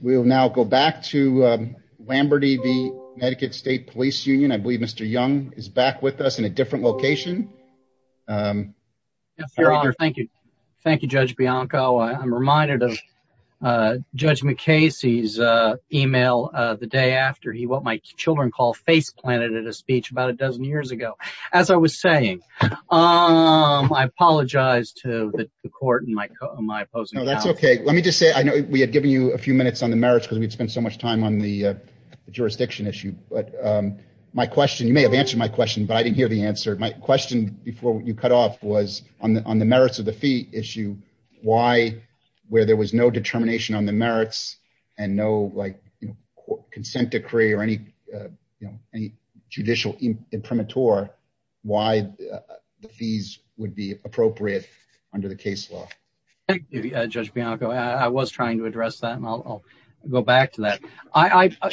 We'll now go back to Lamberty v. Connecticut State Police Union. I believe Mr. Young is back with us in a different location. Yes, Your Honor. Thank you. Thank you, Judge Bianco. I'm reminded of Judge McKay's email the day after he, what my children call, face-planted at a speech about a dozen years ago. As I was saying, I apologize to the court in my opposing house. No, that's okay. Let me just say, I know we had given you a few minutes on the merits because we'd spent so much time on the jurisdiction issue, but my question, you may have answered my question, but I didn't hear the answer. My question before you cut off was on the merits of the fee issue, why, where there was no determination on the merits and no like consent decree or any judicial imprimatur, why the fees would be appropriate under the case Thank you, Judge Bianco. I was trying to address that and I'll go back to that.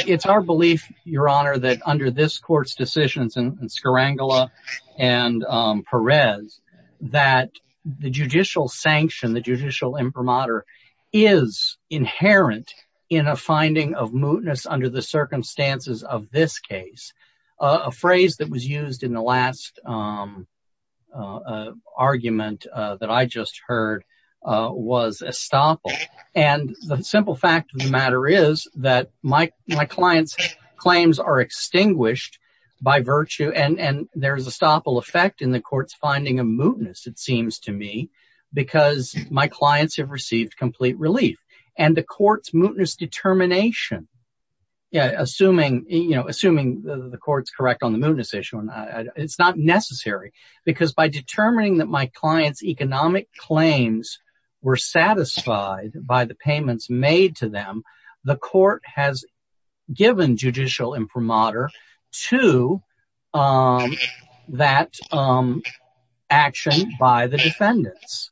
It's our belief, Your Honor, that under this court's decisions in Skrangla and Perez that the judicial sanction, the judicial imprimatur is inherent in a finding of mootness under the circumstances of this case. A phrase that was used in the last argument that I just heard was estoppel and the simple fact of the matter is that my client's claims are extinguished by virtue and there's a estoppel effect in the court's finding of mootness, it seems to me, because my clients have received complete relief and the court's mootness determination, assuming the court's correct on the mootness issue, it's not necessary because by determining that my client's economic claims were satisfied by the payments made to them, the court has given judicial imprimatur to that action by the defendants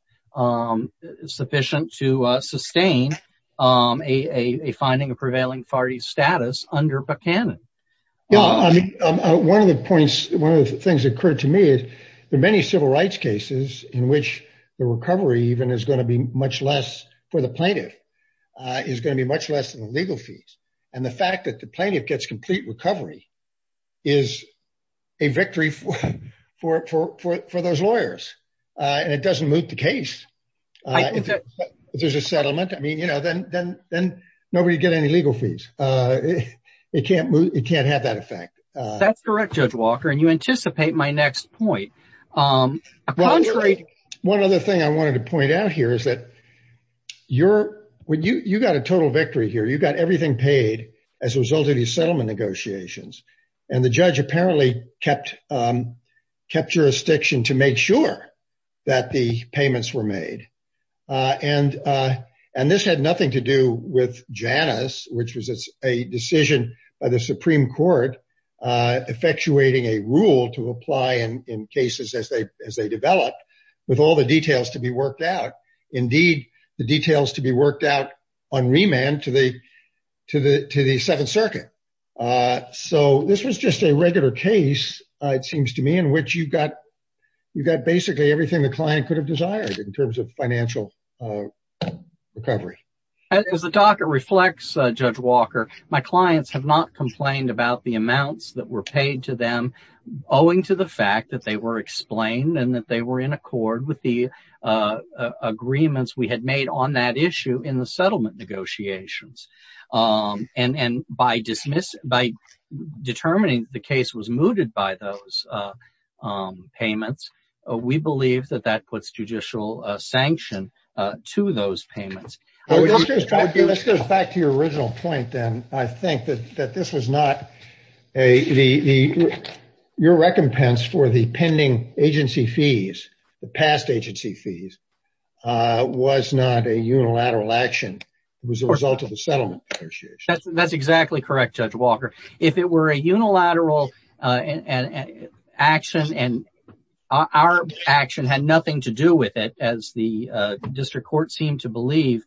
sufficient to sustain a finding of prevailing authority status under Buchanan. One of the points, one of the things that occurred to me is there are many civil rights cases in which the recovery even is going to be much less for the plaintiff, is going to be much less than the legal fees and the fact that the plaintiff gets complete recovery is a victory for those lawyers and it doesn't moot the case. If there's a settlement, I mean, you know, then nobody would get any legal fees. It can't have that effect. That's correct, Judge Walker, and you anticipate my next point. One other thing I wanted to point out here is that you got a total victory here. You got everything paid as a result of these settlement negotiations, and the judge apparently kept jurisdiction to make sure that the payments were made, and this had nothing to do with Janus, which was a decision by the Supreme Court effectuating a rule to apply in cases as they developed with all the details to be worked out. Indeed, the details to be worked out on remand to the Seventh Circuit, so this was just a regular case, it seems to me, in which you got basically everything the client could have desired in terms of financial recovery. As the docket reflects, Judge Walker, my clients have not complained about the amounts that were paid to them owing to the fact that they were explained and that they were in accord with the agreements we had made on that issue in the settlement negotiations. By determining the case was mooted by those payments, we believe that that puts judicial sanction to those payments. Let's go back to your original point, then. I think that this was not the case. Your recompense for the pending agency fees, the past agency fees, was not a unilateral action. It was a result of the settlement negotiations. That's exactly correct, Judge Walker. If it were a unilateral action and our action had nothing to do with it, as the district court seemed to believe,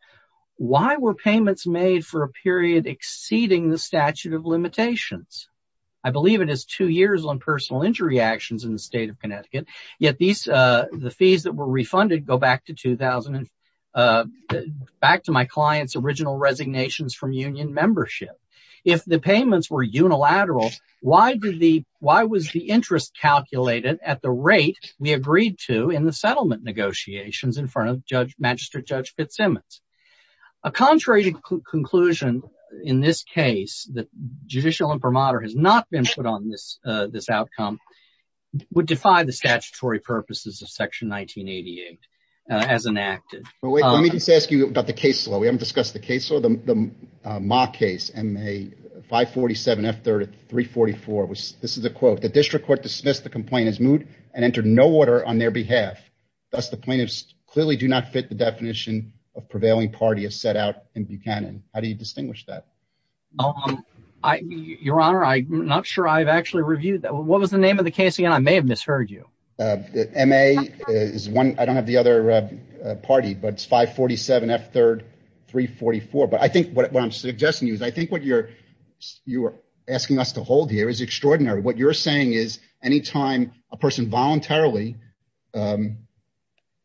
why were payments made for a period exceeding the I believe it is two years on personal injury actions in the state of Connecticut, yet the fees that were refunded go back to my client's original resignations from union membership? If the payments were unilateral, why was the interest calculated at the rate we agreed to in the settlement negotiations in front of Magistrate Judge Fitzsimmons? A contrary conclusion in this case, that judicial imprimatur has not been put on this outcome, would defy the statutory purposes of section 1988 as enacted. Let me just ask you about the case law. We haven't discussed the case law. The mock case, MA 547F3 at 344, this is a quote, the district court dismissed the complainant's moot and entered no order on their behalf. Thus, the plaintiffs clearly do not fit the definition of prevailing party as set out in Buchanan. How do you distinguish that? Your Honor, I'm not sure I've actually reviewed that. What was the name of the case again? I may have misheard you. MA is one, I don't have the other party, but it's 547F3, 344. But I think what I'm suggesting to you is I think what you're asking us to hold here is extraordinary. What you're saying is anytime a person voluntarily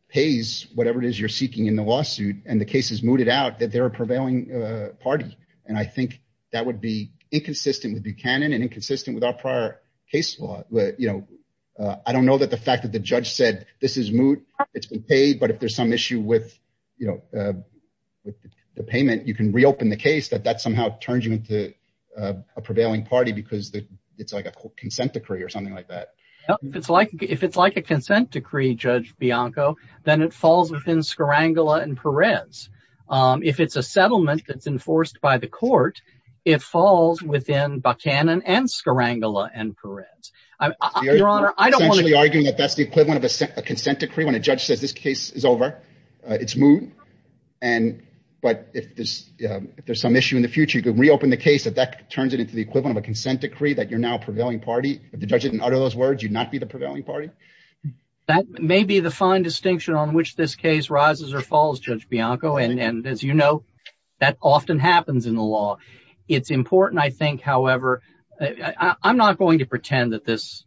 pays whatever it is you're seeking in the lawsuit and the case is mooted out, that they're a prevailing party. I think that would be inconsistent with Buchanan and inconsistent with our prior case law. I don't know that the fact that the judge said this is moot, it's been paid, but if there's some issue with the payment, you can something like that. If it's like a consent decree, Judge Bianco, then it falls within Skrangla and Perez. If it's a settlement that's enforced by the court, it falls within Buchanan and Skrangla and Perez. Your Honor, I don't want to be arguing that that's the equivalent of a consent decree when a judge says this case is over, it's moot, but if there's some issue in the future, you can reopen the case if that turns it into the equivalent of a consent decree that you're now a prevailing party. If the judge didn't utter those words, you'd not be the prevailing party? That may be the fine distinction on which this case rises or falls, Judge Bianco, and as you know, that often happens in the law. It's important, I think, however, I'm not going to pretend that this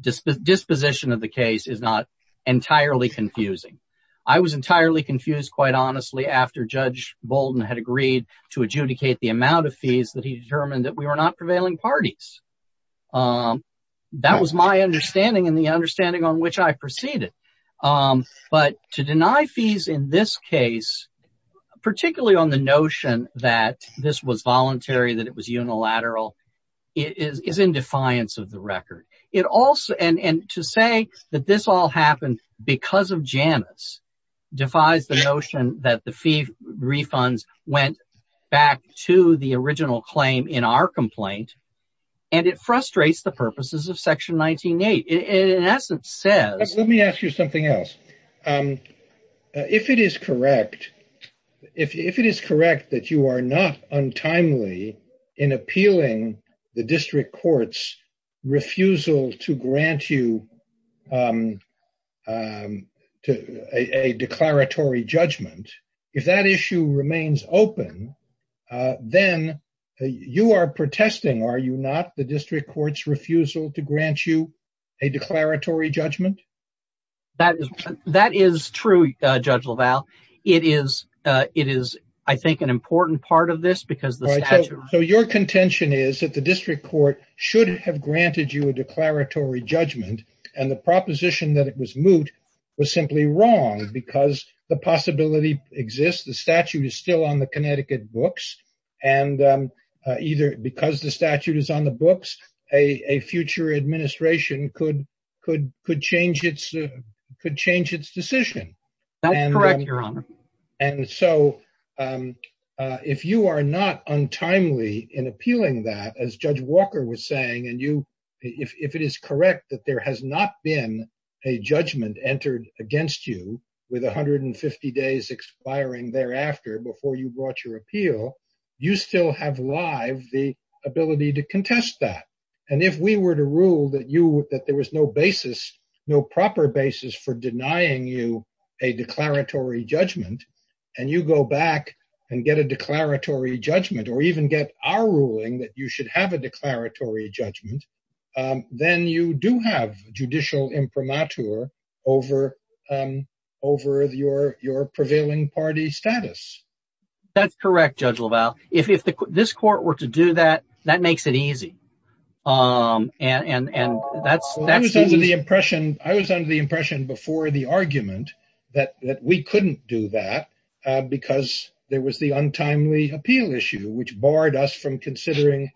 disposition of the case is not entirely confusing. I was entirely confused, quite honestly, after Judge Bolden had agreed to adjudicate the amount of fees that he determined that we were not prevailing parties. That was my understanding and the understanding on which I proceeded, but to deny fees in this case, particularly on the notion that this was voluntary, that it was unilateral, is in defiance of the record. And to say that this all happened because of Janus defies the notion that the fee refunds went back to the original claim in our complaint, and it frustrates the purposes of section 19-8. It in essence says... Let me ask you something else. If it is correct that you are not untimely in appealing the district court's refusal to grant you a declaratory judgment, if that issue remains open, then you are protesting, are you not, the district court's refusal to grant you a declaratory judgment? That is true, Judge LaValle. It is, I think, an important part of this because the statute... So your contention is that the district court should have granted you a declaratory judgment, and the proposition that it was moot was simply wrong because the possibility exists. The statute is still on the Connecticut books, and either because the statute is on the books, a future administration could change its decision. That's correct, Your Honor. And so if you are not untimely in appealing that, as Judge Walker was saying, and if it is correct that there has not been a judgment entered against you with 150 days expiring thereafter before you brought your appeal, you still have live the ability to contest that. And if we were to rule that there was no basis, no proper basis, for denying you a declaratory judgment, and you go back and get a declaratory judgment, or even get our ruling that you should have a declaratory judgment, then you do have judicial imprimatur over your prevailing party status. That's correct, Judge LaValle. If this court were to do that, that makes it easy. I was under the impression before the argument that we couldn't do that because there was the untimely appeal issue, which barred us from defending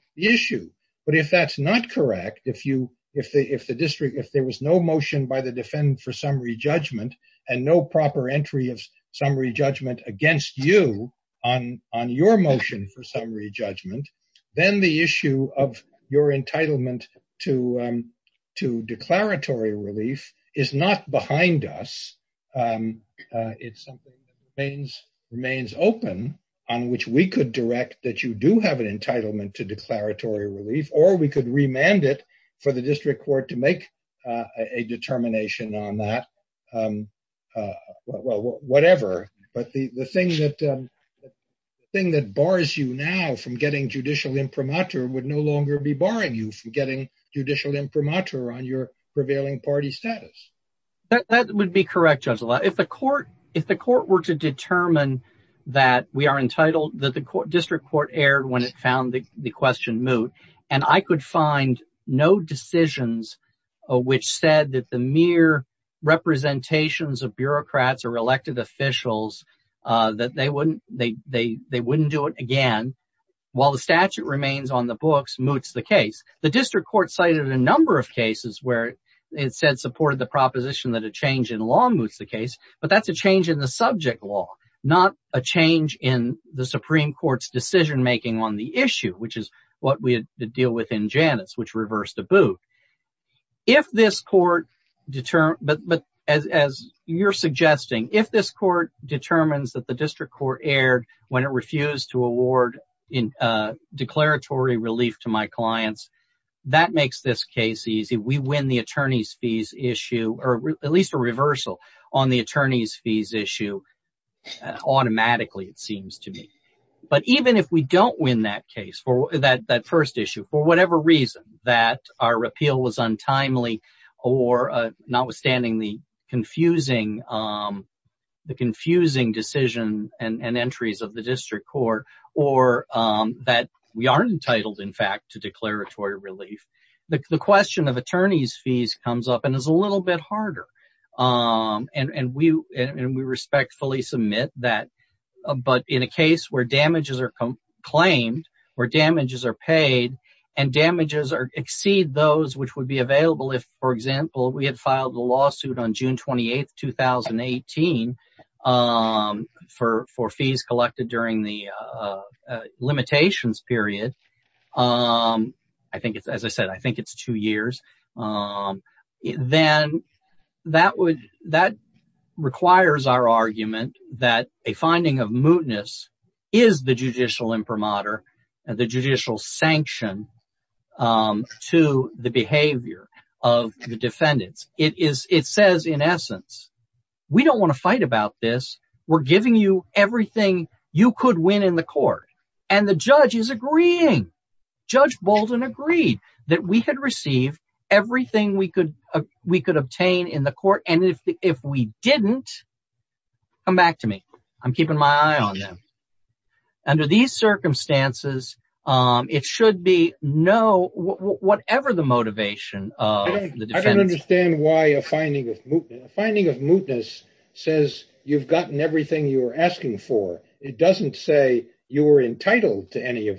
for summary judgment, and no proper entry of summary judgment against you on your motion for summary judgment, then the issue of your entitlement to declaratory relief is not behind us. It's something that remains open on which we could direct that you do have an entitlement to declaratory relief, or we could remand it for the district court to make a determination on that. Well, whatever. But the thing that bars you now from getting judicial imprimatur would no longer be barring you from getting judicial imprimatur on your prevailing party status. That would be correct, Judge LaValle. If the court were to determine that we are entitled, that the district court erred when it found the question moot, and I could find no decisions which said that the mere representations of bureaucrats or elected officials, that they wouldn't do it again, while the statute remains on the books, moots the case. The district court cited a number of cases where it said supported the proposition that a change in law moots the case, but that's a change in the subject law, not a change in the moot. But as you're suggesting, if this court determines that the district court erred when it refused to award declaratory relief to my clients, that makes this case easy. We win the attorney's fees issue, or at least a reversal on the attorney's fees issue automatically, it seems to me. But even if we don't win that case, that first issue, for whatever reason, that our repeal was untimely, or notwithstanding the confusing decision and entries of the district court, or that we aren't entitled, in fact, to declaratory relief, the question of attorney's fees comes up and is a little bit harder. And we respectfully submit that. But in a case where damages are claimed, where damages are paid, and damages exceed those which would be available if, for example, we had filed a lawsuit on June 28, 2018, for fees collected during the limitations period, I think it's, as I said, I think it's two years, then that requires our judicial imprimatur, the judicial sanction to the behavior of the defendants. It says, in essence, we don't want to fight about this. We're giving you everything you could win in the court. And the judge is agreeing. Judge Bolden agreed that we had received everything we could obtain in court. And if we didn't, come back to me. I'm keeping my eye on them. Under these circumstances, it should be no, whatever the motivation of the defendants. I don't understand why a finding of mootness says you've gotten everything you were asking for. It doesn't say you were entitled to your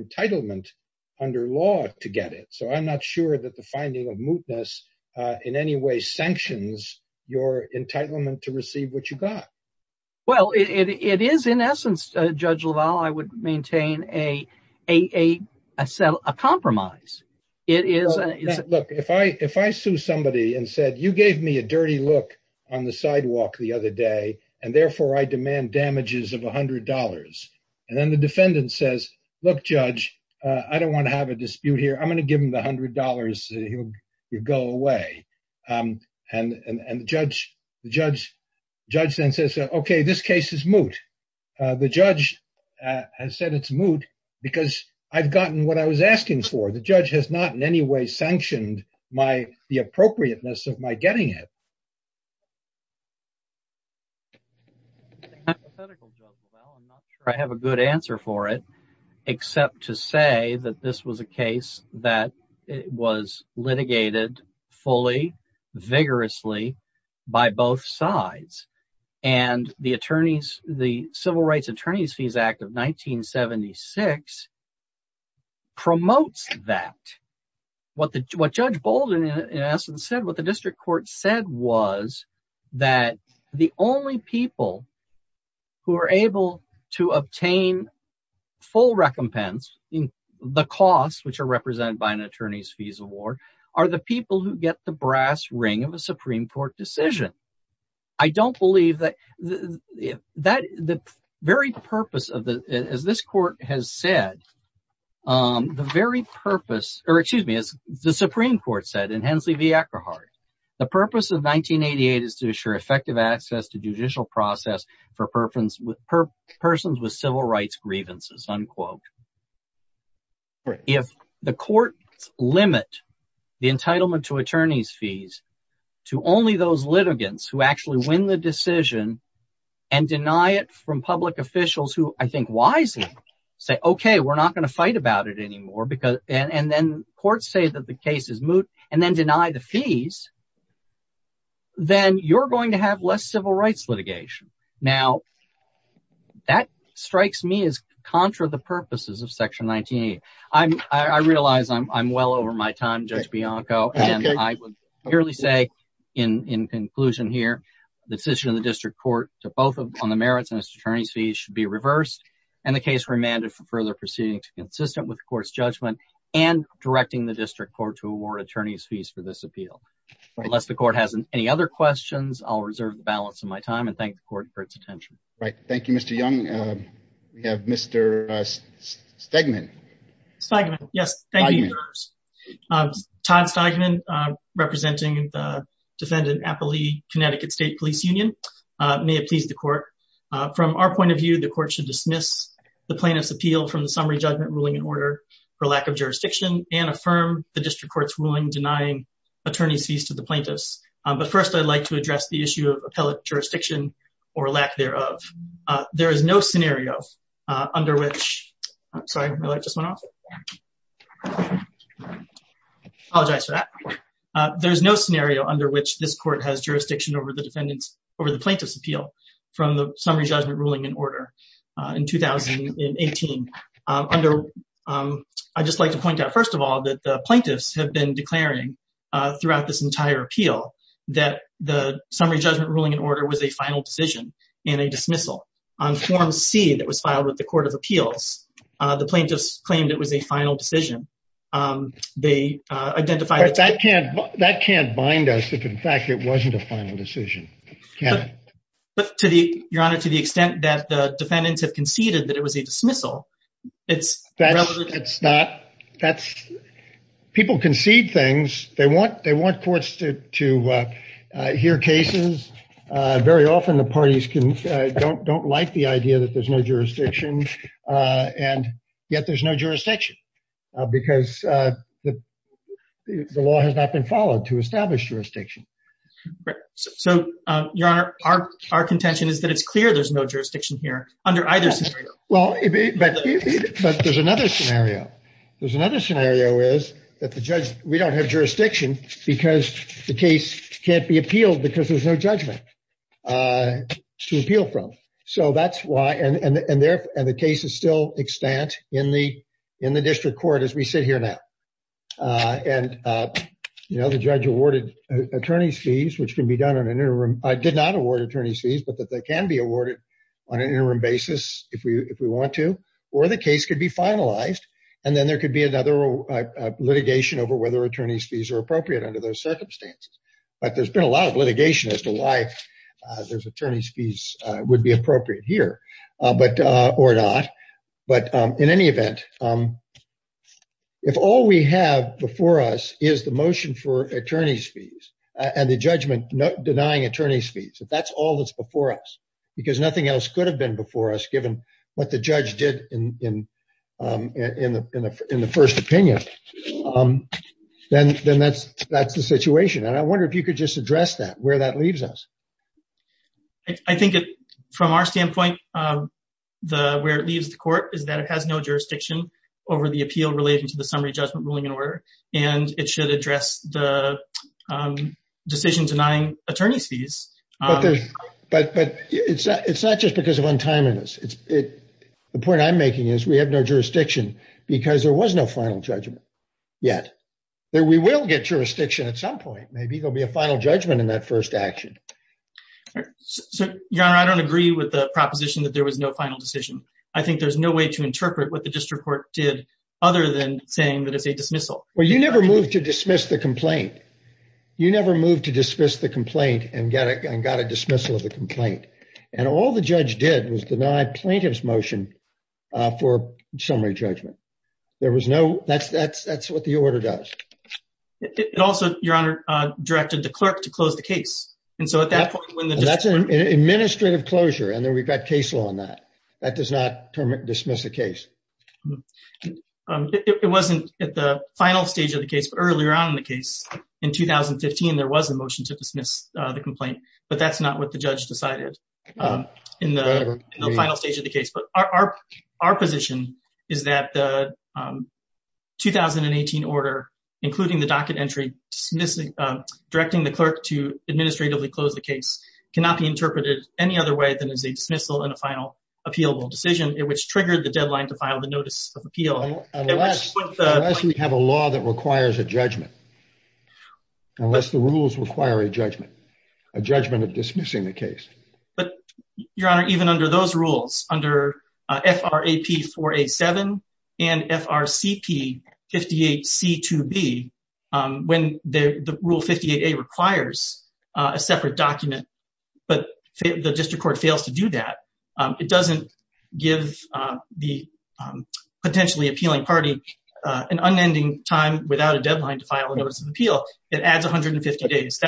entitlement under law to get it. So I'm not sure that the finding of mootness in any way sanctions your entitlement to receive what you got. Well, it is in essence, Judge LaValle, I would maintain a compromise. Look, if I sue somebody and said, you gave me a dirty look on the sidewalk the other day, and therefore I demand damages of $100. And then the defendant says, look, Judge, I don't want to have a dispute here. I'm going to give him the $100. He'll go away. And the judge then says, OK, this case is moot. The judge has said it's moot because I've gotten what I was asking for. The judge has not in any way sanctioned the appropriateness of my except to say that this was a case that was litigated fully, vigorously by both sides. And the Civil Rights Attorneys Fees Act of 1976 promotes that. What Judge Bolden in essence said, the district court said was that the only people who are able to obtain full recompense in the costs which are represented by an attorney's fees award are the people who get the brass ring of a Supreme Court decision. I don't believe that the very purpose of the as this court has said, the very purpose or excuse me, as the Supreme Court said in Hensley v. Eckerhart, the purpose of 1988 is to assure effective access to judicial process for persons with civil rights grievances, unquote. If the court limit the entitlement to attorney's fees to only those litigants who actually win the decision and deny it from public officials who I think wisely say, okay, we're not going to fight about it anymore. And then courts say that the case is moot and then deny the fees, then you're going to have less civil rights litigation. Now, that strikes me as contra the purposes of section 19. I realize I'm well over my time, Judge Bianco, and I would merely say in conclusion here, the decision of the district court to both on the merits and attorney's fees should be reversed. And the case remanded for further proceeding to consistent with the court's judgment and directing the district court to award attorney's fees for this appeal. Unless the court has any other questions, I'll reserve the balance of my time and thank the court for its attention. Right. Thank you, Mr. Young. We have Mr. Stegman. Stegman. Yes, thank you. Todd Stegman, representing the defendant, Appali Connecticut State Police Union. May it please the court. From our point of view, the court should dismiss the plaintiff's appeal from the summary judgment ruling in order for lack of jurisdiction and affirm the district court's ruling denying attorney's fees to the plaintiffs. But first, I'd like to address the issue of appellate jurisdiction or lack thereof. There is no scenario under which, sorry, my light just went off. Apologize for that. There's no scenario under which this court has jurisdiction over the plaintiff's appeal from the summary judgment ruling in order in 2018. I'd just like to point out, first of all, that the plaintiffs have been declaring throughout this entire appeal that the summary judgment ruling in order was a final decision and a dismissal. On Form C that was filed with the Court of Appeals, the plaintiffs claimed it was a final decision. They identified- That can't bind us if in fact it wasn't a final decision. But to the extent that the defendants have conceded that it was a dismissal, it's- People concede things. They want courts to hear cases. Very often the parties don't like the idea that there's no jurisdiction and yet there's no jurisdiction because the law has not been followed to establish jurisdiction. Right. So, Your Honor, our contention is that it's clear there's no jurisdiction here under either scenario. Well, but there's another scenario. There's another scenario is that the judge- We don't have jurisdiction because the case can't be appealed because there's no judgment to appeal from. So, that's why- And the case is still extant in the district court as we sit here now. And the judge awarded attorney's fees, which can be done on an interim- Did not award attorney's fees, but that they can be awarded on an interim basis if we want to. Or the case could be finalized and then there could be another litigation over whether attorney's fees are appropriate under those circumstances. But there's been a lot of litigation as to why those attorney's fees would be appropriate here, or not. But in any event, if all we have before us is the motion for attorney's fees and the judgment denying attorney's fees, if that's all that's before us, because nothing else could have been before us given what the judge did in the first opinion, then that's the situation. And I wonder if you could just address that, where that leaves us. I think from our standpoint, where it leaves the court is that it has no jurisdiction over the appeal relating to the summary judgment ruling and order, and it should address the decision denying attorney's fees. But it's not just because of untimeliness. The point I'm making is we have no jurisdiction because there was no final judgment yet. We will get jurisdiction at some point. Maybe there'll be a final judgment in that first action. So, your honor, I don't agree with the proposition that there was no final decision. I think there's no way to interpret what the district court did other than saying that it's a dismissal. Well, you never moved to dismiss the complaint. You never moved to dismiss the complaint and got a dismissal of the complaint. And all the judge did was deny plaintiff's motion for summary judgment. That's what the order does. Also, your honor, directed the clerk to close the case. And so at that point, when the district court- That's an administrative closure, and then we've got case law on that. That does not dismiss a case. It wasn't at the final stage of the case, but earlier on in the case, in 2015, there was a motion to dismiss the complaint, but that's not what the judge decided. In the final stage of the case. But our position is that the 2018 order, including the docket entry, directing the clerk to administratively close the case cannot be interpreted any other way than as a dismissal and a final appealable decision, which triggered the deadline to file the notice of appeal. Unless we have a law that requires a judgment. Unless the rules require a judgment, a judgment of dismissing the case. But your honor, even under those rules, under FRAP 4A7 and FRCP 58C2B, when the rule 58A requires a separate document, but the district court fails to do that, it doesn't give the potentially appealing party an unending time without a deadline to file a notice of appeal. It adds 150 days.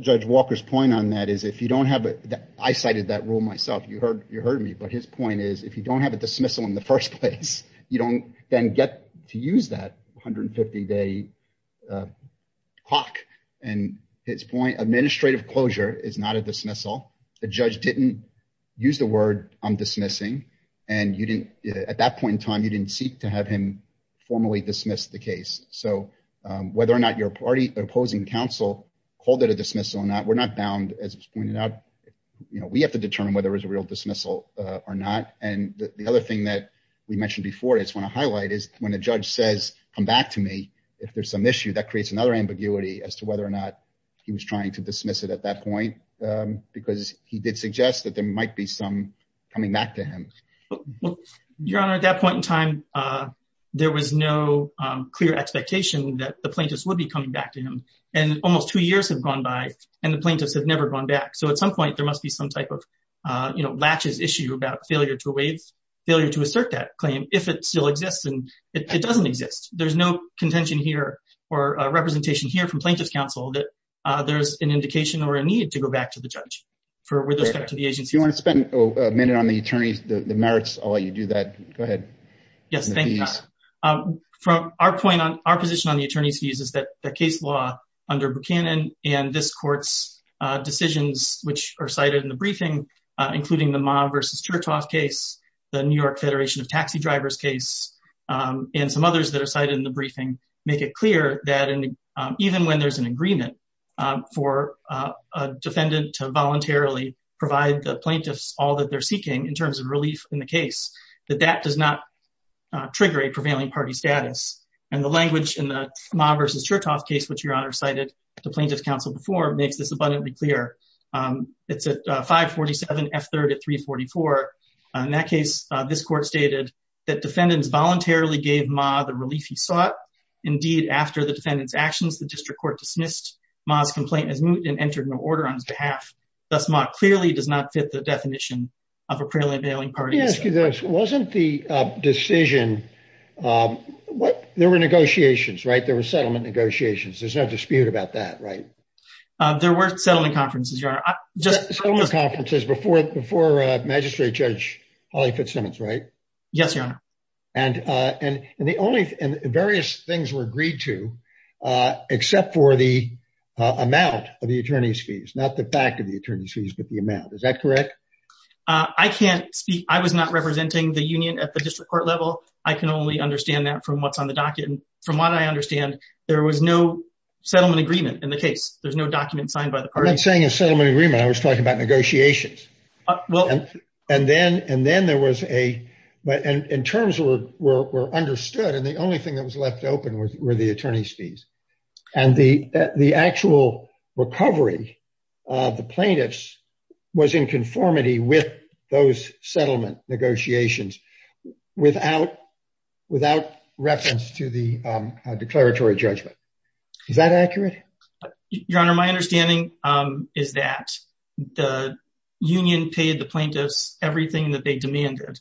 Judge Walker's point on that is if you don't have it, I cited that rule myself, you heard me, but his point is if you don't have a dismissal in the first place, you don't then get to use that 150 day clock. And his point, administrative closure is not a dismissal. The judge didn't use the word I'm dismissing. And at that point in time, you didn't seek to have him formally dismiss the case. So whether or not your party opposing counsel called it a dismissal or not, we're not bound, as was pointed out, we have to determine whether it was a real dismissal or not. And the other thing that we mentioned before, I just want to highlight is when a judge says, come back to me, if there's some issue that creates another ambiguity as to whether or not he was trying to dismiss it at that point, because he did suggest that there might be some coming back to him. Your Honor, at that point in time, there was no clear expectation that the plaintiffs would be coming back to him. And almost two years have gone by, and the plaintiffs have never gone back. So at some point, there must be some type of, you know, latches issue about failure to assert that claim if it still exists, and it doesn't exist. There's no contention here or representation here from plaintiff's counsel that there's an indication or a need to go back to the judge with respect to the agency. If you want to spend a minute on the attorneys, the merits, I'll let you do that. Go ahead. Yes, thank you. From our point on, our position on the attorney's views is that the case law under Buchanan and this court's decisions, which are cited in the briefing, including the Ma versus Chertoff case, the New York Federation of Taxi Drivers case, and some others that are cited in the briefing, make it clear that even when there's an agreement for a defendant to voluntarily provide the plaintiffs all that they're seeking in terms of relief in the case, that that does not trigger a prevailing party status. And the language in the Ma versus Chertoff case, which Your Honor cited to plaintiff's counsel before, makes this abundantly clear. It's at 547 F3rd at 344. In that case, this court stated that defendants voluntarily gave Ma the relief he sought. Indeed, after the defendant's actions, the district court dismissed Ma's complaint as moot and entered no order on his behalf. Thus, Ma clearly does not fit the definition of a prevailing party. Let me ask you this. Wasn't the decision, there were negotiations, right? There were settlement negotiations. There's no dispute about that, right? There were settlement conferences, Your Honor. Settlement conferences before Magistrate Judge Holly Fitzsimmons, right? Yes, Your Honor. And various things were agreed to, except for the amount of the attorney's fees. Not the fact of the attorney's fees, but the amount. Is that correct? I can't speak. I was not representing the union at the district court level. I can only understand that from what's on the docket. From what I understand, there was no settlement agreement in the case. There's no document signed by the party. I'm not saying and then there was a, but in terms were understood and the only thing that was left open were the attorney's fees. And the actual recovery of the plaintiffs was in conformity with those settlement negotiations without reference to the declaratory judgment. Is that accurate? Your Honor, my understanding is that the union paid the plaintiffs everything that they demanded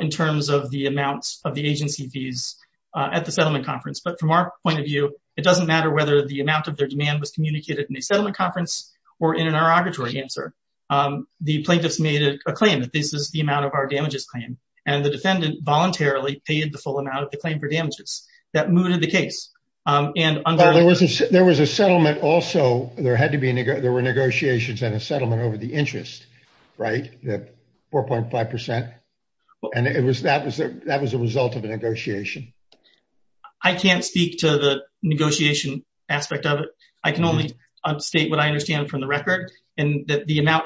in terms of the amounts of the agency fees at the settlement conference. But from our point of view, it doesn't matter whether the amount of their demand was communicated in a settlement conference or in an inauguratory answer. The plaintiffs made a claim that this is the amount of our damages claim. And the defendant voluntarily paid the full amount of the claim for damages. That mooted the case. There was a settlement also. There were negotiations and a settlement over the interest, right? 4.5%. And that was a result of a negotiation. I can't speak to the negotiation aspect of it. I can only upstate what I understand from the record and that the amount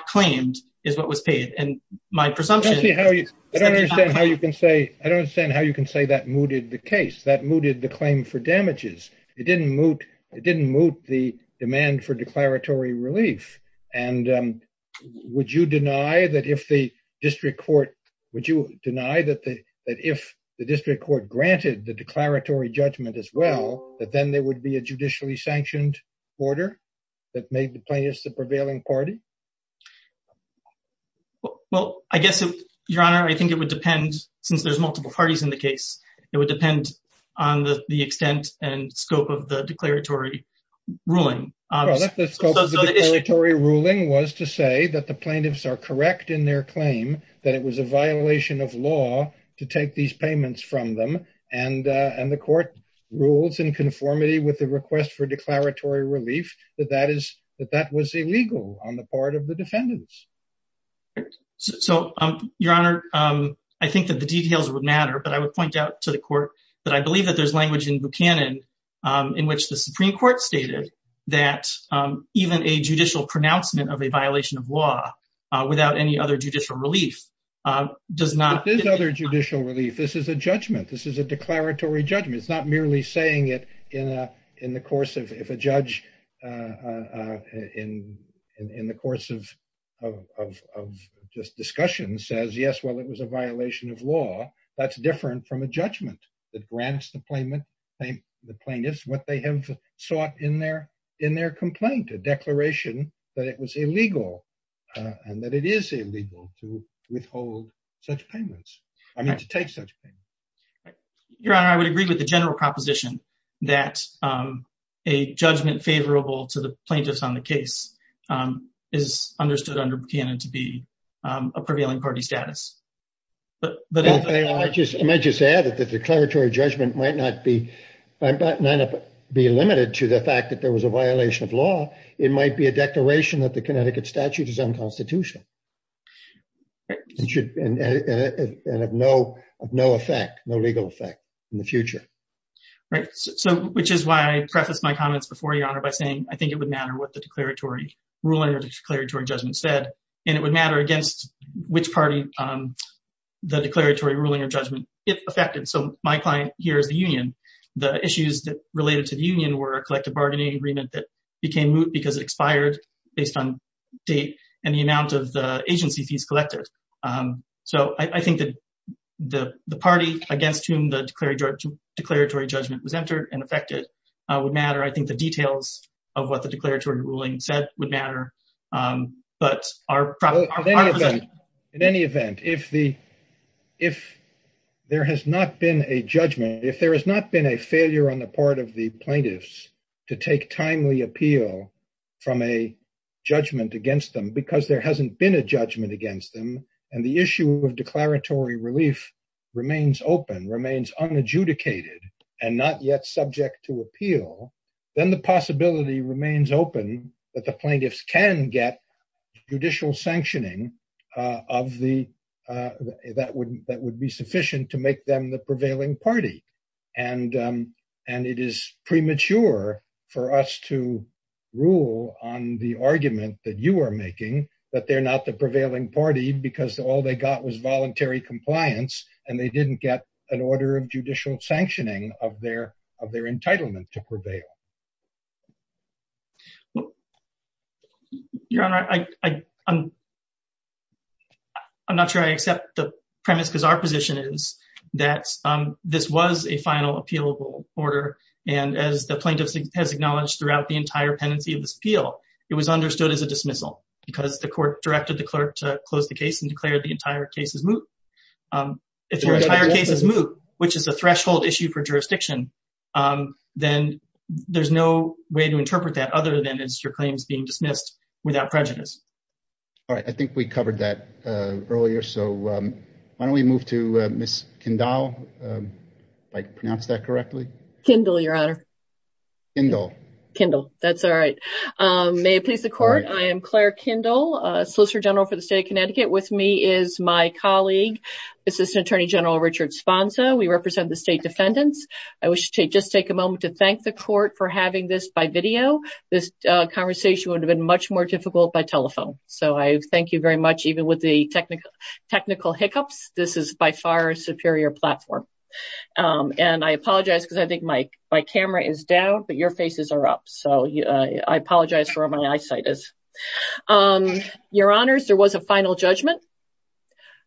mooted the claim for damages. It didn't moot the demand for declaratory relief. And would you deny that if the district court granted the declaratory judgment as well, that then there would be a judicially sanctioned order that made the plaintiffs the prevailing party? Well, I guess, Your Honor, I think it would depend since there's multiple parties in the case, it would depend on the extent and scope of the declaratory ruling. Well, the scope of the declaratory ruling was to say that the plaintiffs are correct in their claim that it was a violation of law to take these payments from them. And the court rules in conformity with the request for declaratory relief that that was illegal on the part of the defendants. Right. So, Your Honor, I think that the details would matter, but I would point out to the court that I believe that there's language in Buchanan in which the Supreme Court stated that even a judicial pronouncement of a violation of law without any other judicial relief does not But there's other judicial relief. This is a judgment. This is a declaratory judgment. It's merely saying it in the course of, if a judge in the course of just discussion says, yes, well, it was a violation of law, that's different from a judgment that grants the plaintiffs what they have sought in their complaint, a declaration that it was illegal and that it is illegal to take such payment. Your Honor, I would agree with the general proposition that a judgment favorable to the plaintiffs on the case is understood under Buchanan to be a prevailing party status. I might just add that the declaratory judgment might not be limited to the fact that there was a violation of law. It might be a declaration that the Connecticut statute is unconstitutional and of no effect, no legal effect in the future. Right, so which is why I prefaced my comments before, Your Honor, by saying I think it would matter what the declaratory ruling or declaratory judgment said, and it would matter against which party the declaratory ruling or judgment, if affected. So my client here is the union. The issues that related to the union were a collective bargaining agreement that became moot because it expired based on date and the amount of the agency fees collected. So I think that the party against whom the declaratory judgment was entered and affected would matter. I think the details of what the declaratory ruling said would matter, but our proposition... In any event, if there has not been a judgment, if there has not been a failure on the part of the plaintiffs to take timely appeal from a judgment against them because there hasn't been a judgment against them and the issue of declaratory relief remains open, remains unadjudicated, and not yet subject to appeal, then the possibility remains open that the plaintiffs can get judicial sanctioning that would be sufficient to make them the prevailing party. And it is premature for us to rule on the argument that you are making that they're not the prevailing party because all they got was voluntary compliance and they didn't get an order of judicial sanctioning of their entitlement to prevail. Your Honor, I'm not sure I accept the premise because our position is that this was a final appealable order, and as the plaintiff has acknowledged throughout the entire pendency of this appeal, it was understood as a dismissal because the court directed the clerk to close the case and declared the entire case as moot. If the entire case is moot, which is a threshold issue for jurisdiction, then there's no way to interpret that other than it's your claims being dismissed without prejudice. All right, I think we covered that earlier, so why don't we move to Ms. Kindle, if I pronounced that correctly? Kindle, Your Honor. Kindle. Kindle, that's all right. May it please the court, I am Claire Kindle, Solicitor General for the State of Connecticut. With me is my colleague, Assistant Attorney General Richard Sponza. We represent the state defendants. I wish to just take a moment to thank the court for having this by video. This conversation would have been much more difficult by telephone, so I thank you very much. Even with the technical hiccups, this is by far a superior platform. And I apologize because I think my camera is down, but your faces are up, so I apologize for where my eyesight is. Your Honors, there was a final judgment.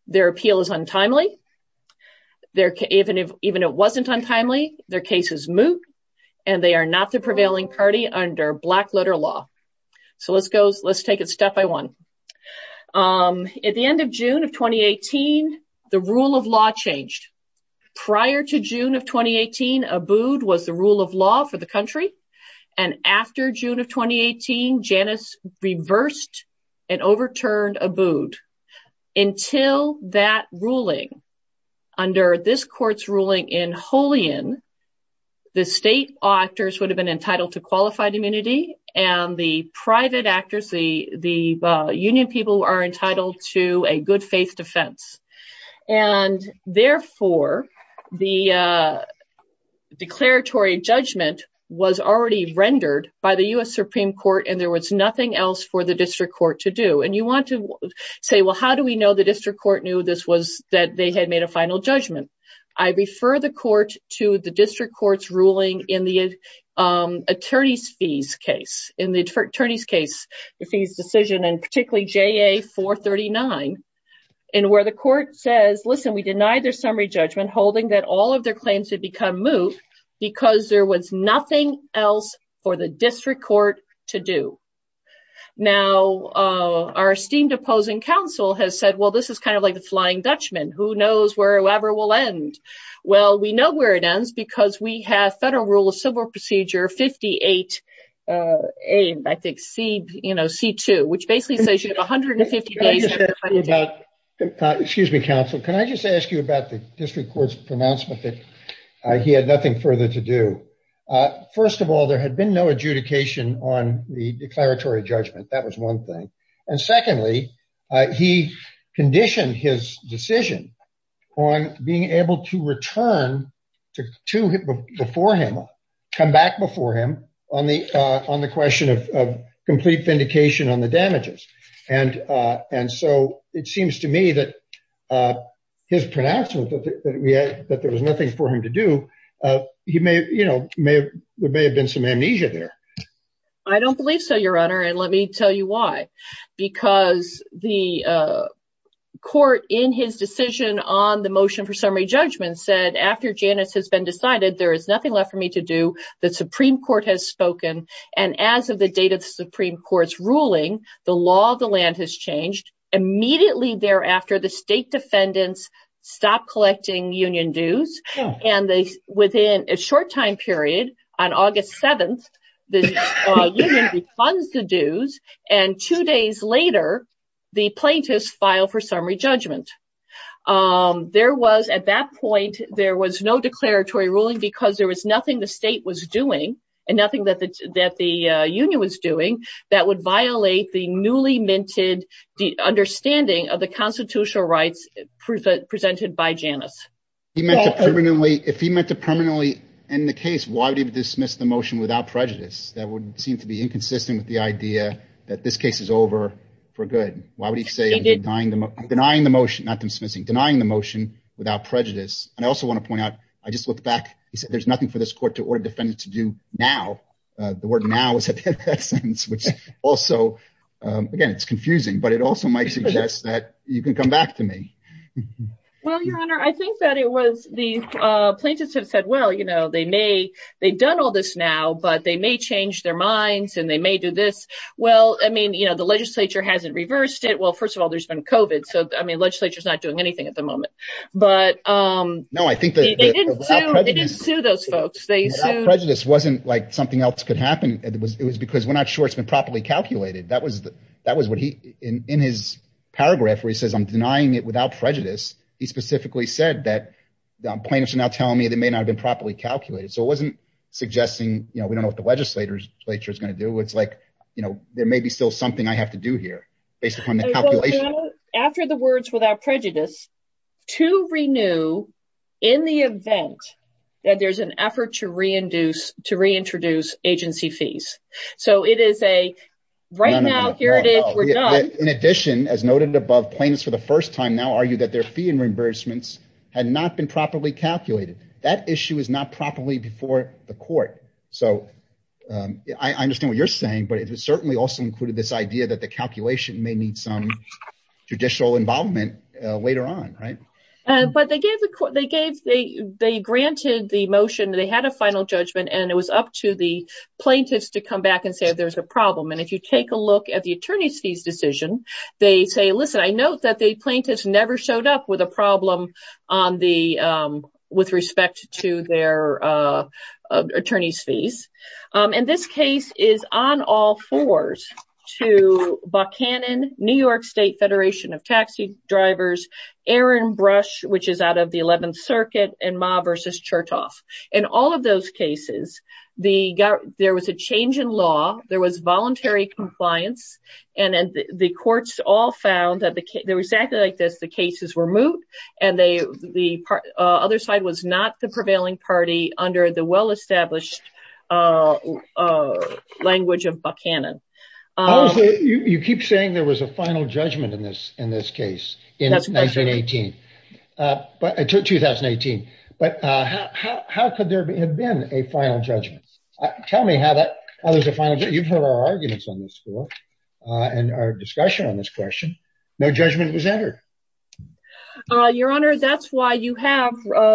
Their appeal is untimely. Even if it wasn't untimely, their case is moot, and they are not the prevailing party under black-letter law. So let's go, let's take it step by one. At the end of June of 2018, the rule of law changed. Prior to June of 2018, ABUD was the rule of law for the country, and after June of 2018, Janice reversed and overturned ABUD. Until that ruling, under this court's ruling in Holian, the state actors would have been entitled to qualified immunity, and the private actors, the union people, are entitled to a good-faith defense. And therefore, the declaratory judgment was already rendered by the U.S. Supreme Court, and there was nothing else for the district court to do. And you want to say, well, how do we know the district court knew this made a final judgment? I refer the court to the district court's ruling in the attorneys' fees case, in the attorneys' fees decision, and particularly JA-439, and where the court says, listen, we denied their summary judgment, holding that all of their claims had become moot because there was nothing else for the district court to do. Now, our esteemed opposing counsel has said, well, this is kind of like the Flying Dutchman. Who knows where it ever will end? Well, we know where it ends because we have Federal Rule of Civil Procedure 58A, I think, C, you know, C2, which basically says you have 150 days. Excuse me, counsel. Can I just ask you about the district court's pronouncement that he had nothing further to do? First of all, there had been no adjudication on the declaratory judgment. That was one thing. And secondly, he conditioned his decision on being able to return to before him, come back before him on the question of complete vindication on the damages. And so it seems to me that his pronouncement that there was nothing for him to do, he may, you know, there may have been some amnesia there. I don't believe so, Your Honor. And let me tell you why. Because the court in his decision on the motion for summary judgment said, after Janus has been decided, there is nothing left for me to do. The Supreme Court has spoken. And as of the date of the Supreme Court's ruling, the law of the land has changed. Immediately thereafter, the state defendants stopped collecting union dues. And within a short time period, on August 7th, the union refunds the dues. And two days later, the plaintiffs file for summary judgment. There was, at that point, there was no declaratory ruling because there was nothing the state was doing and nothing that the union was doing that would violate the newly minted understanding of the constitutional rights presented by Janus. If he meant to permanently end the case, why did he dismiss the motion without prejudice? That would seem to be inconsistent with the idea that this case is over for good. Why would he say denying the motion, not dismissing, denying the motion without prejudice? And I also want to point out, I just looked back, he said there's nothing for this court to order defendants to do now. The word now is at the end of that sentence, which also, again, it's confusing, but it also might suggest that you can come back to me. Well, your honor, I think that it was the plaintiffs have said, well, you know, they may, they've done all this now, but they may change their minds and they may do this. Well, I mean, you know, the legislature hasn't reversed it. Well, first of all, there's been COVID. So, I mean, legislature's not doing anything at the moment, but. No, I think they didn't sue those folks. They sued. Prejudice wasn't like something else could happen. It was, it was because we're not sure it's been properly calculated. That was, that was what he, in his paragraph where he says, I'm denying it without prejudice. He specifically said that the plaintiffs are now telling me they may not have been properly calculated. So it wasn't suggesting, you know, we don't know what the legislature is going to do. It's like, you know, there may be still something I have to do here based upon the calculation. After the words without prejudice, to renew in the event that there's an effort to re-induce, to re-introduce agency fees. So it is a right now, here it is, we're done. In addition, as noted above plaintiffs for the first time now argue that their fee and reimbursements had not been properly calculated. That issue is not properly before the court. So I understand what you're saying, but it certainly also included this idea that the calculation may need some judicial involvement later on. Right. But they gave the court, they gave, they, they granted the motion. They had a final judgment and it was up to the plaintiffs to come back and say, if there's a problem. And if you take a look at the attorney's fees decision, they say, listen, I note that the plaintiffs never showed up with a problem on the, with respect to their attorney's fees. And this case is on all fours to Buchanan, New York State Federation of Taxi Drivers, Aaron Brush, which is out of the 11th Circuit and Ma versus Chertoff. In all of those cases, the, there was a change in law. There was voluntary compliance and the courts all found that there was exactly like this. The cases were moot and they, the other side was not the prevailing party under the well-established language of Buchanan. You keep saying there was a final judgment in this, in this case in 1918, but 2018, but how could there have been a final judgment? Tell me how that, how there's a final, you've heard our arguments on this before and our discussion on this question. No judgment was entered. Your Honor, that's why you have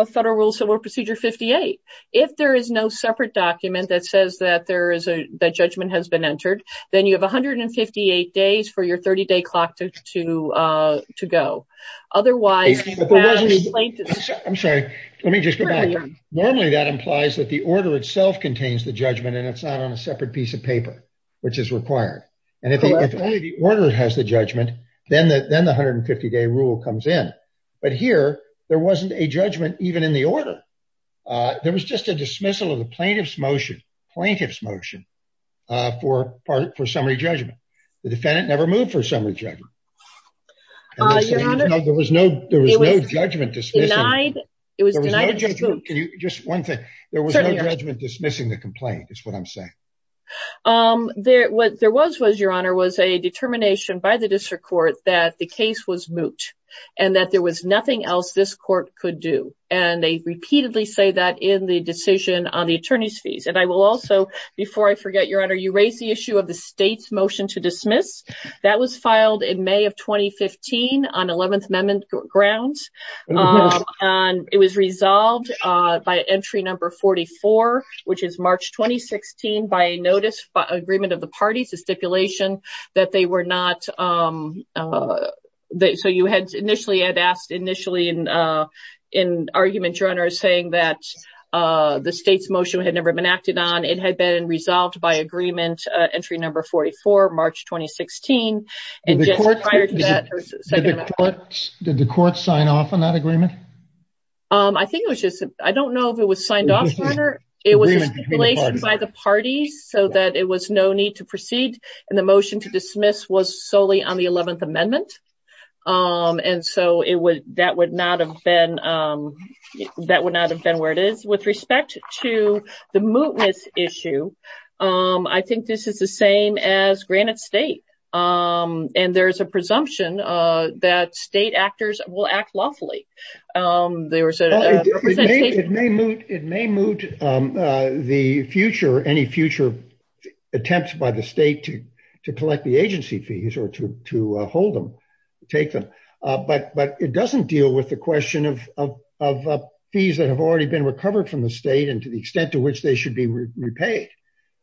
Federal Rule Civil Procedure 58. If there is no separate document that says that there is a, that judgment has been entered, then you have 158 days for your 30-day clock to go. Otherwise, I'm sorry, let me just go back. Normally that implies that the order itself contains the judgment and it's not on a separate piece of paper, which is required. And if only the order has the judgment, then the 150-day rule comes in. But here there wasn't a judgment even in the order. There was just a dismissal of the plaintiff's motion, plaintiff's motion for summary judgment. The defendant never moved for summary judgment. There was no, there was no judgment. Just one thing, there was no judgment dismissing the complaint is what I'm saying. What there was, was Your Honor, was a determination by the district court that the case was moot and that there was nothing else this court could do. And they repeatedly say that in the decision on the attorney's fees. And I will also, before I forget, Your Honor, you raised the issue of the state's motion to dismiss. That was filed in May of 2015 on 11th Amendment grounds. And it was resolved by entry number 44, which is March, 2016, by a notice, agreement of the parties, a stipulation that they were not, so you had initially had asked initially in argument, Your Honor, saying that the state's motion had never been acted on. It had been resolved by agreement, entry number 44, March, 2016. And just prior to that, did the court sign off on that agreement? I think it was just, I don't know if it was signed off, Your Honor. It was a stipulation by the parties so that it was no need to proceed. And the motion to dismiss was solely on the 11th Amendment. And so that would not have been where it is. With respect to the mootness issue, I think this is the same as granted state. And there's a presumption that state actors will act lawfully. It may moot the future, any future attempts by the state to collect the agency fees or to hold them, take them. But it doesn't deal with the question of fees that have already been recovered from the state and to the extent to which they should be repaid.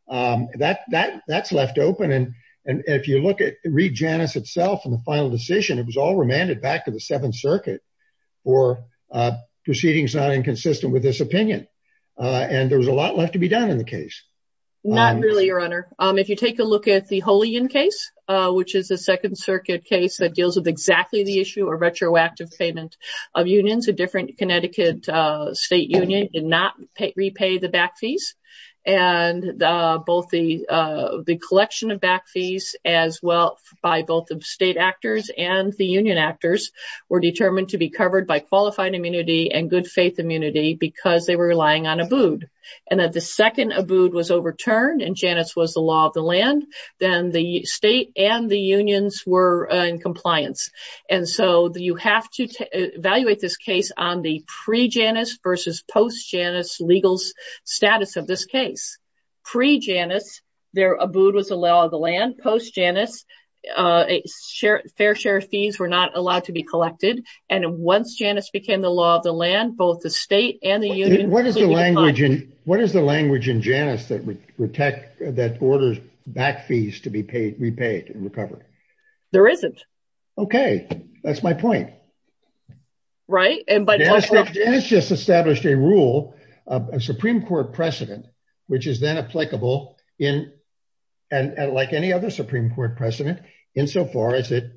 That's left open. And if you look at Reed Janus itself and the final decision, it was all remanded back to the Seventh Circuit for proceedings not inconsistent with this opinion. And there was a lot left to be done in the case. Not really, Your Honor. If you take a look at the Holian case, which is a Second Circuit case that deals with exactly the issue of retroactive payment of unions, a different Connecticut state union did not repay the back fees. And both the collection of back fees as well by both the state actors and the union actors were determined to be covered by qualified immunity and good faith immunity because they were relying on ABUD. And that the second ABUD was overturned and Janus was the law of the land, then the state and the unions were in compliance. And so you have to evaluate this case on the pre-Janus, their ABUD was a law of the land. Post-Janus, fair share fees were not allowed to be collected. And once Janus became the law of the land, both the state and the union- What is the language in Janus that orders back fees to be repaid and recovered? There isn't. Okay. That's my point. Right. And by- Janus just established a rule, a Supreme Court precedent, which is then applicable in, and like any other Supreme Court precedent, insofar as it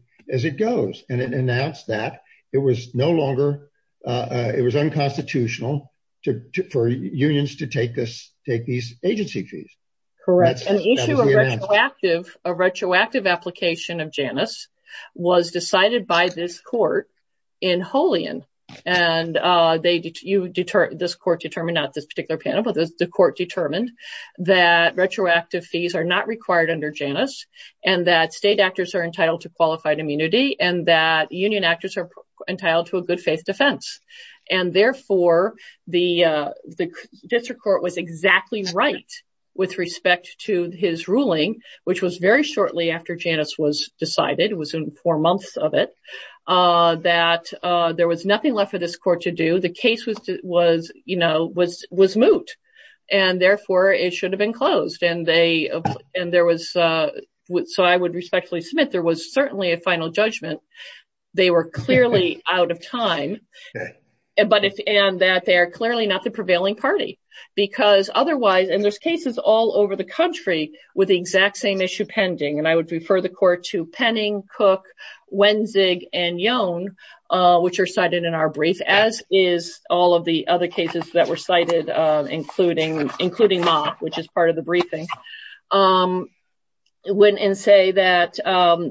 goes. And it announced that it was no longer, it was unconstitutional for unions to take these agency fees. Correct. And the issue of retroactive, a retroactive application of Janus was decided by this court in Holian. And this court determined, not this particular panel, but the court determined that retroactive fees are not required under Janus and that state actors are entitled to qualified immunity and that union actors are entitled to a good faith defense. And therefore the district court was exactly right with respect to his ruling, which was shortly after Janus was decided, it was in four months of it, that there was nothing left for this court to do. The case was moot and therefore it should have been closed. And there was, so I would respectfully submit, there was certainly a final judgment. They were clearly out of time and that they are clearly not the prevailing party because otherwise, and there's cases all over the country with the exact same issue pending. And I would refer the court to Penning, Cook, Wenzig, and Yohn, which are cited in our brief, as is all of the other cases that were cited, including Mott, which is part of the briefing. And say that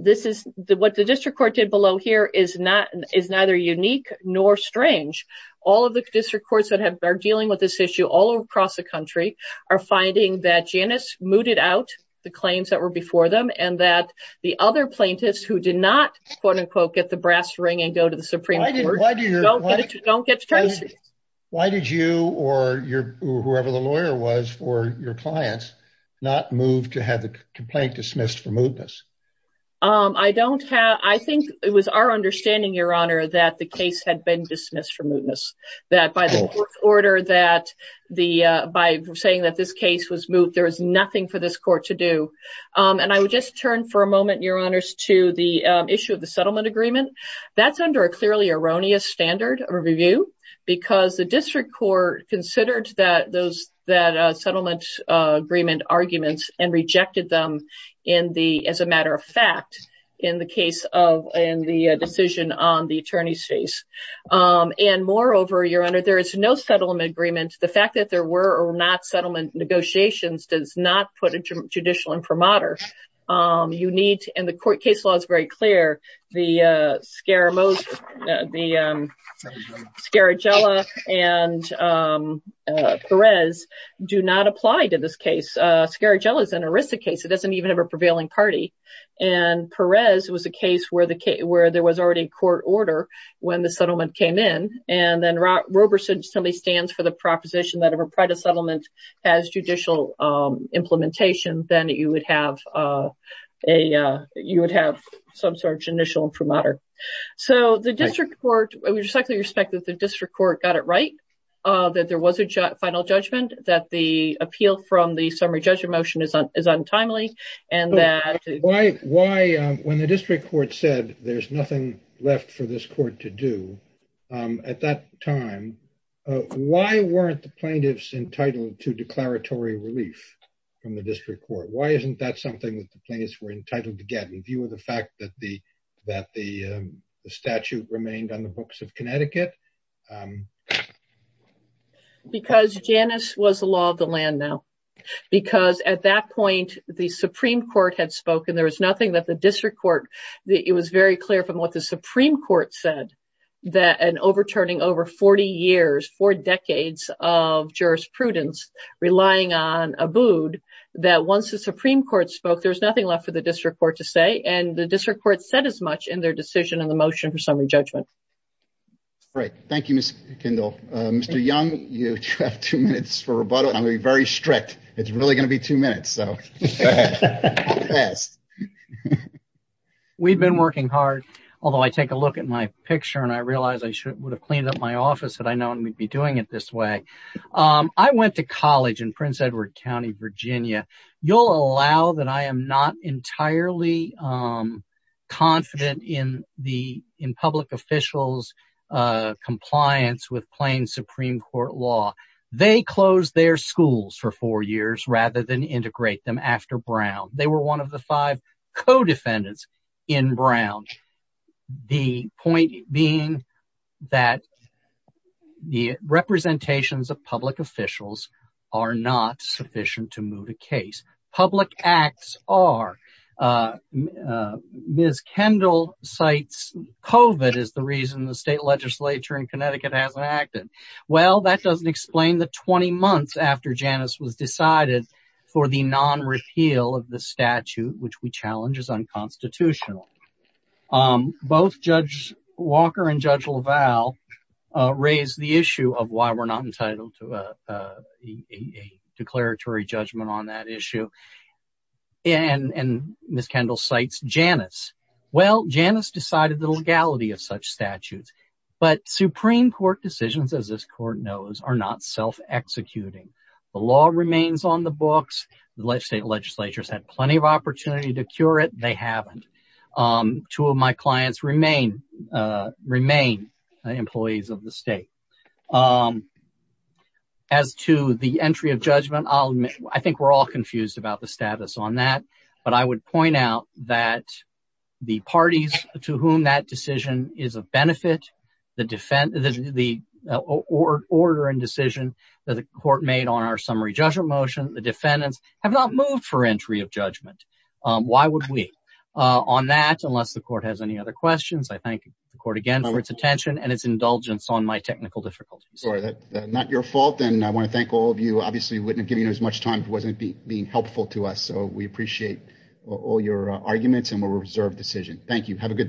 this is, what the district court did below here is neither unique nor strange. All of the district courts that are dealing with this issue all across the country are finding that Janus mooted out the claims that were before them and that the other plaintiffs who did not quote-unquote get the brass ring and go to the Supreme Court, don't get to Tracy. Why did you or whoever the lawyer was for your clients not move to have the complaint dismissed for mootness? I don't have, I think it was our understanding, your honor, that the case had been dismissed for mootness. That by the court's order that the, by saying that this case was moot, there was nothing for this court to do. And I would just turn for a moment, your honors, to the issue of the settlement agreement. That's under a clearly erroneous standard of review because the district court considered that those, that settlement agreement arguments and rejected them in the, as a matter of the decision on the attorney's case. And moreover, your honor, there is no settlement agreement. The fact that there were or not settlement negotiations does not put a judicial imprimatur. You need, and the court case law is very clear, the Scaramoza, the Scaragella and Perez do not apply to this case. Scaragella is an aristic case. It doesn't even have a prevailing party. And Perez was a case where the case, where there was already court order when the settlement came in. And then Roberson, somebody stands for the proposition that if a private settlement has judicial implementation, then you would have a, you would have some sort of judicial imprimatur. So the district court, I would just like to respect that the district court got it right, that there was a final judgment, that the appeal from the summary judgment motion is untimely and that... Why, when the district court said there's nothing left for this court to do at that time, why weren't the plaintiffs entitled to declaratory relief from the district court? Why isn't that something that the plaintiffs were entitled to get in view of the fact that the, that the statute remained on the books of Connecticut? Because Janice was the law of the land now. Because at that point, the Supreme Court had spoken. There was nothing that the district court... It was very clear from what the Supreme Court said that an overturning over 40 years, four decades of jurisprudence, relying on Abood, that once the Supreme Court spoke, there was nothing left for the district court to say. And the district court said as much in their decision and the motion for summary judgment. All right. Thank you, Ms. Kendall. Mr. Young, you have two minutes for rebuttal, and I'm going to be very strict. It's really going to be two minutes, so... We've been working hard, although I take a look at my picture and I realize I should, would have cleaned up my office had I known we'd be doing it this way. I went to college in Prince Edward County, Virginia. You'll allow that I am not entirely confident in public officials' compliance with plain Supreme Court law. They closed their schools for four years rather than integrate them after Brown. They were one of the five co-defendants in Brown. The point being that the representations of public officials are not sufficient to move a case. Public acts are. Ms. Kendall cites COVID as the reason the state legislature in Connecticut hasn't acted. Well, that doesn't explain the 20 months after Janus was decided for the non-repeal of the statute, which we challenge as unconstitutional. Both Judge Walker and Judge and Ms. Kendall cites Janus. Well, Janus decided the legality of such statutes, but Supreme Court decisions, as this court knows, are not self-executing. The law remains on the books. The state legislatures had plenty of opportunity to cure it. They haven't. Two of my clients remain employees of the state. As to the entry of judgment, I think we're all confused about the status on that, but I would point out that the parties to whom that decision is of benefit, the order and decision that the court made on our summary judgment motion, the defendants have not moved for entry of judgment. Why would we? On that, unless the court has any other questions, I thank the court again for its attention and its indulgence on my technical difficulties. Sorry, that's not your fault, and I want to thank all of you. Obviously, we wouldn't have given you as much time if it wasn't being helpful to us, so we appreciate all your arguments, and we'll reserve the decision. Thank you. Have a good day.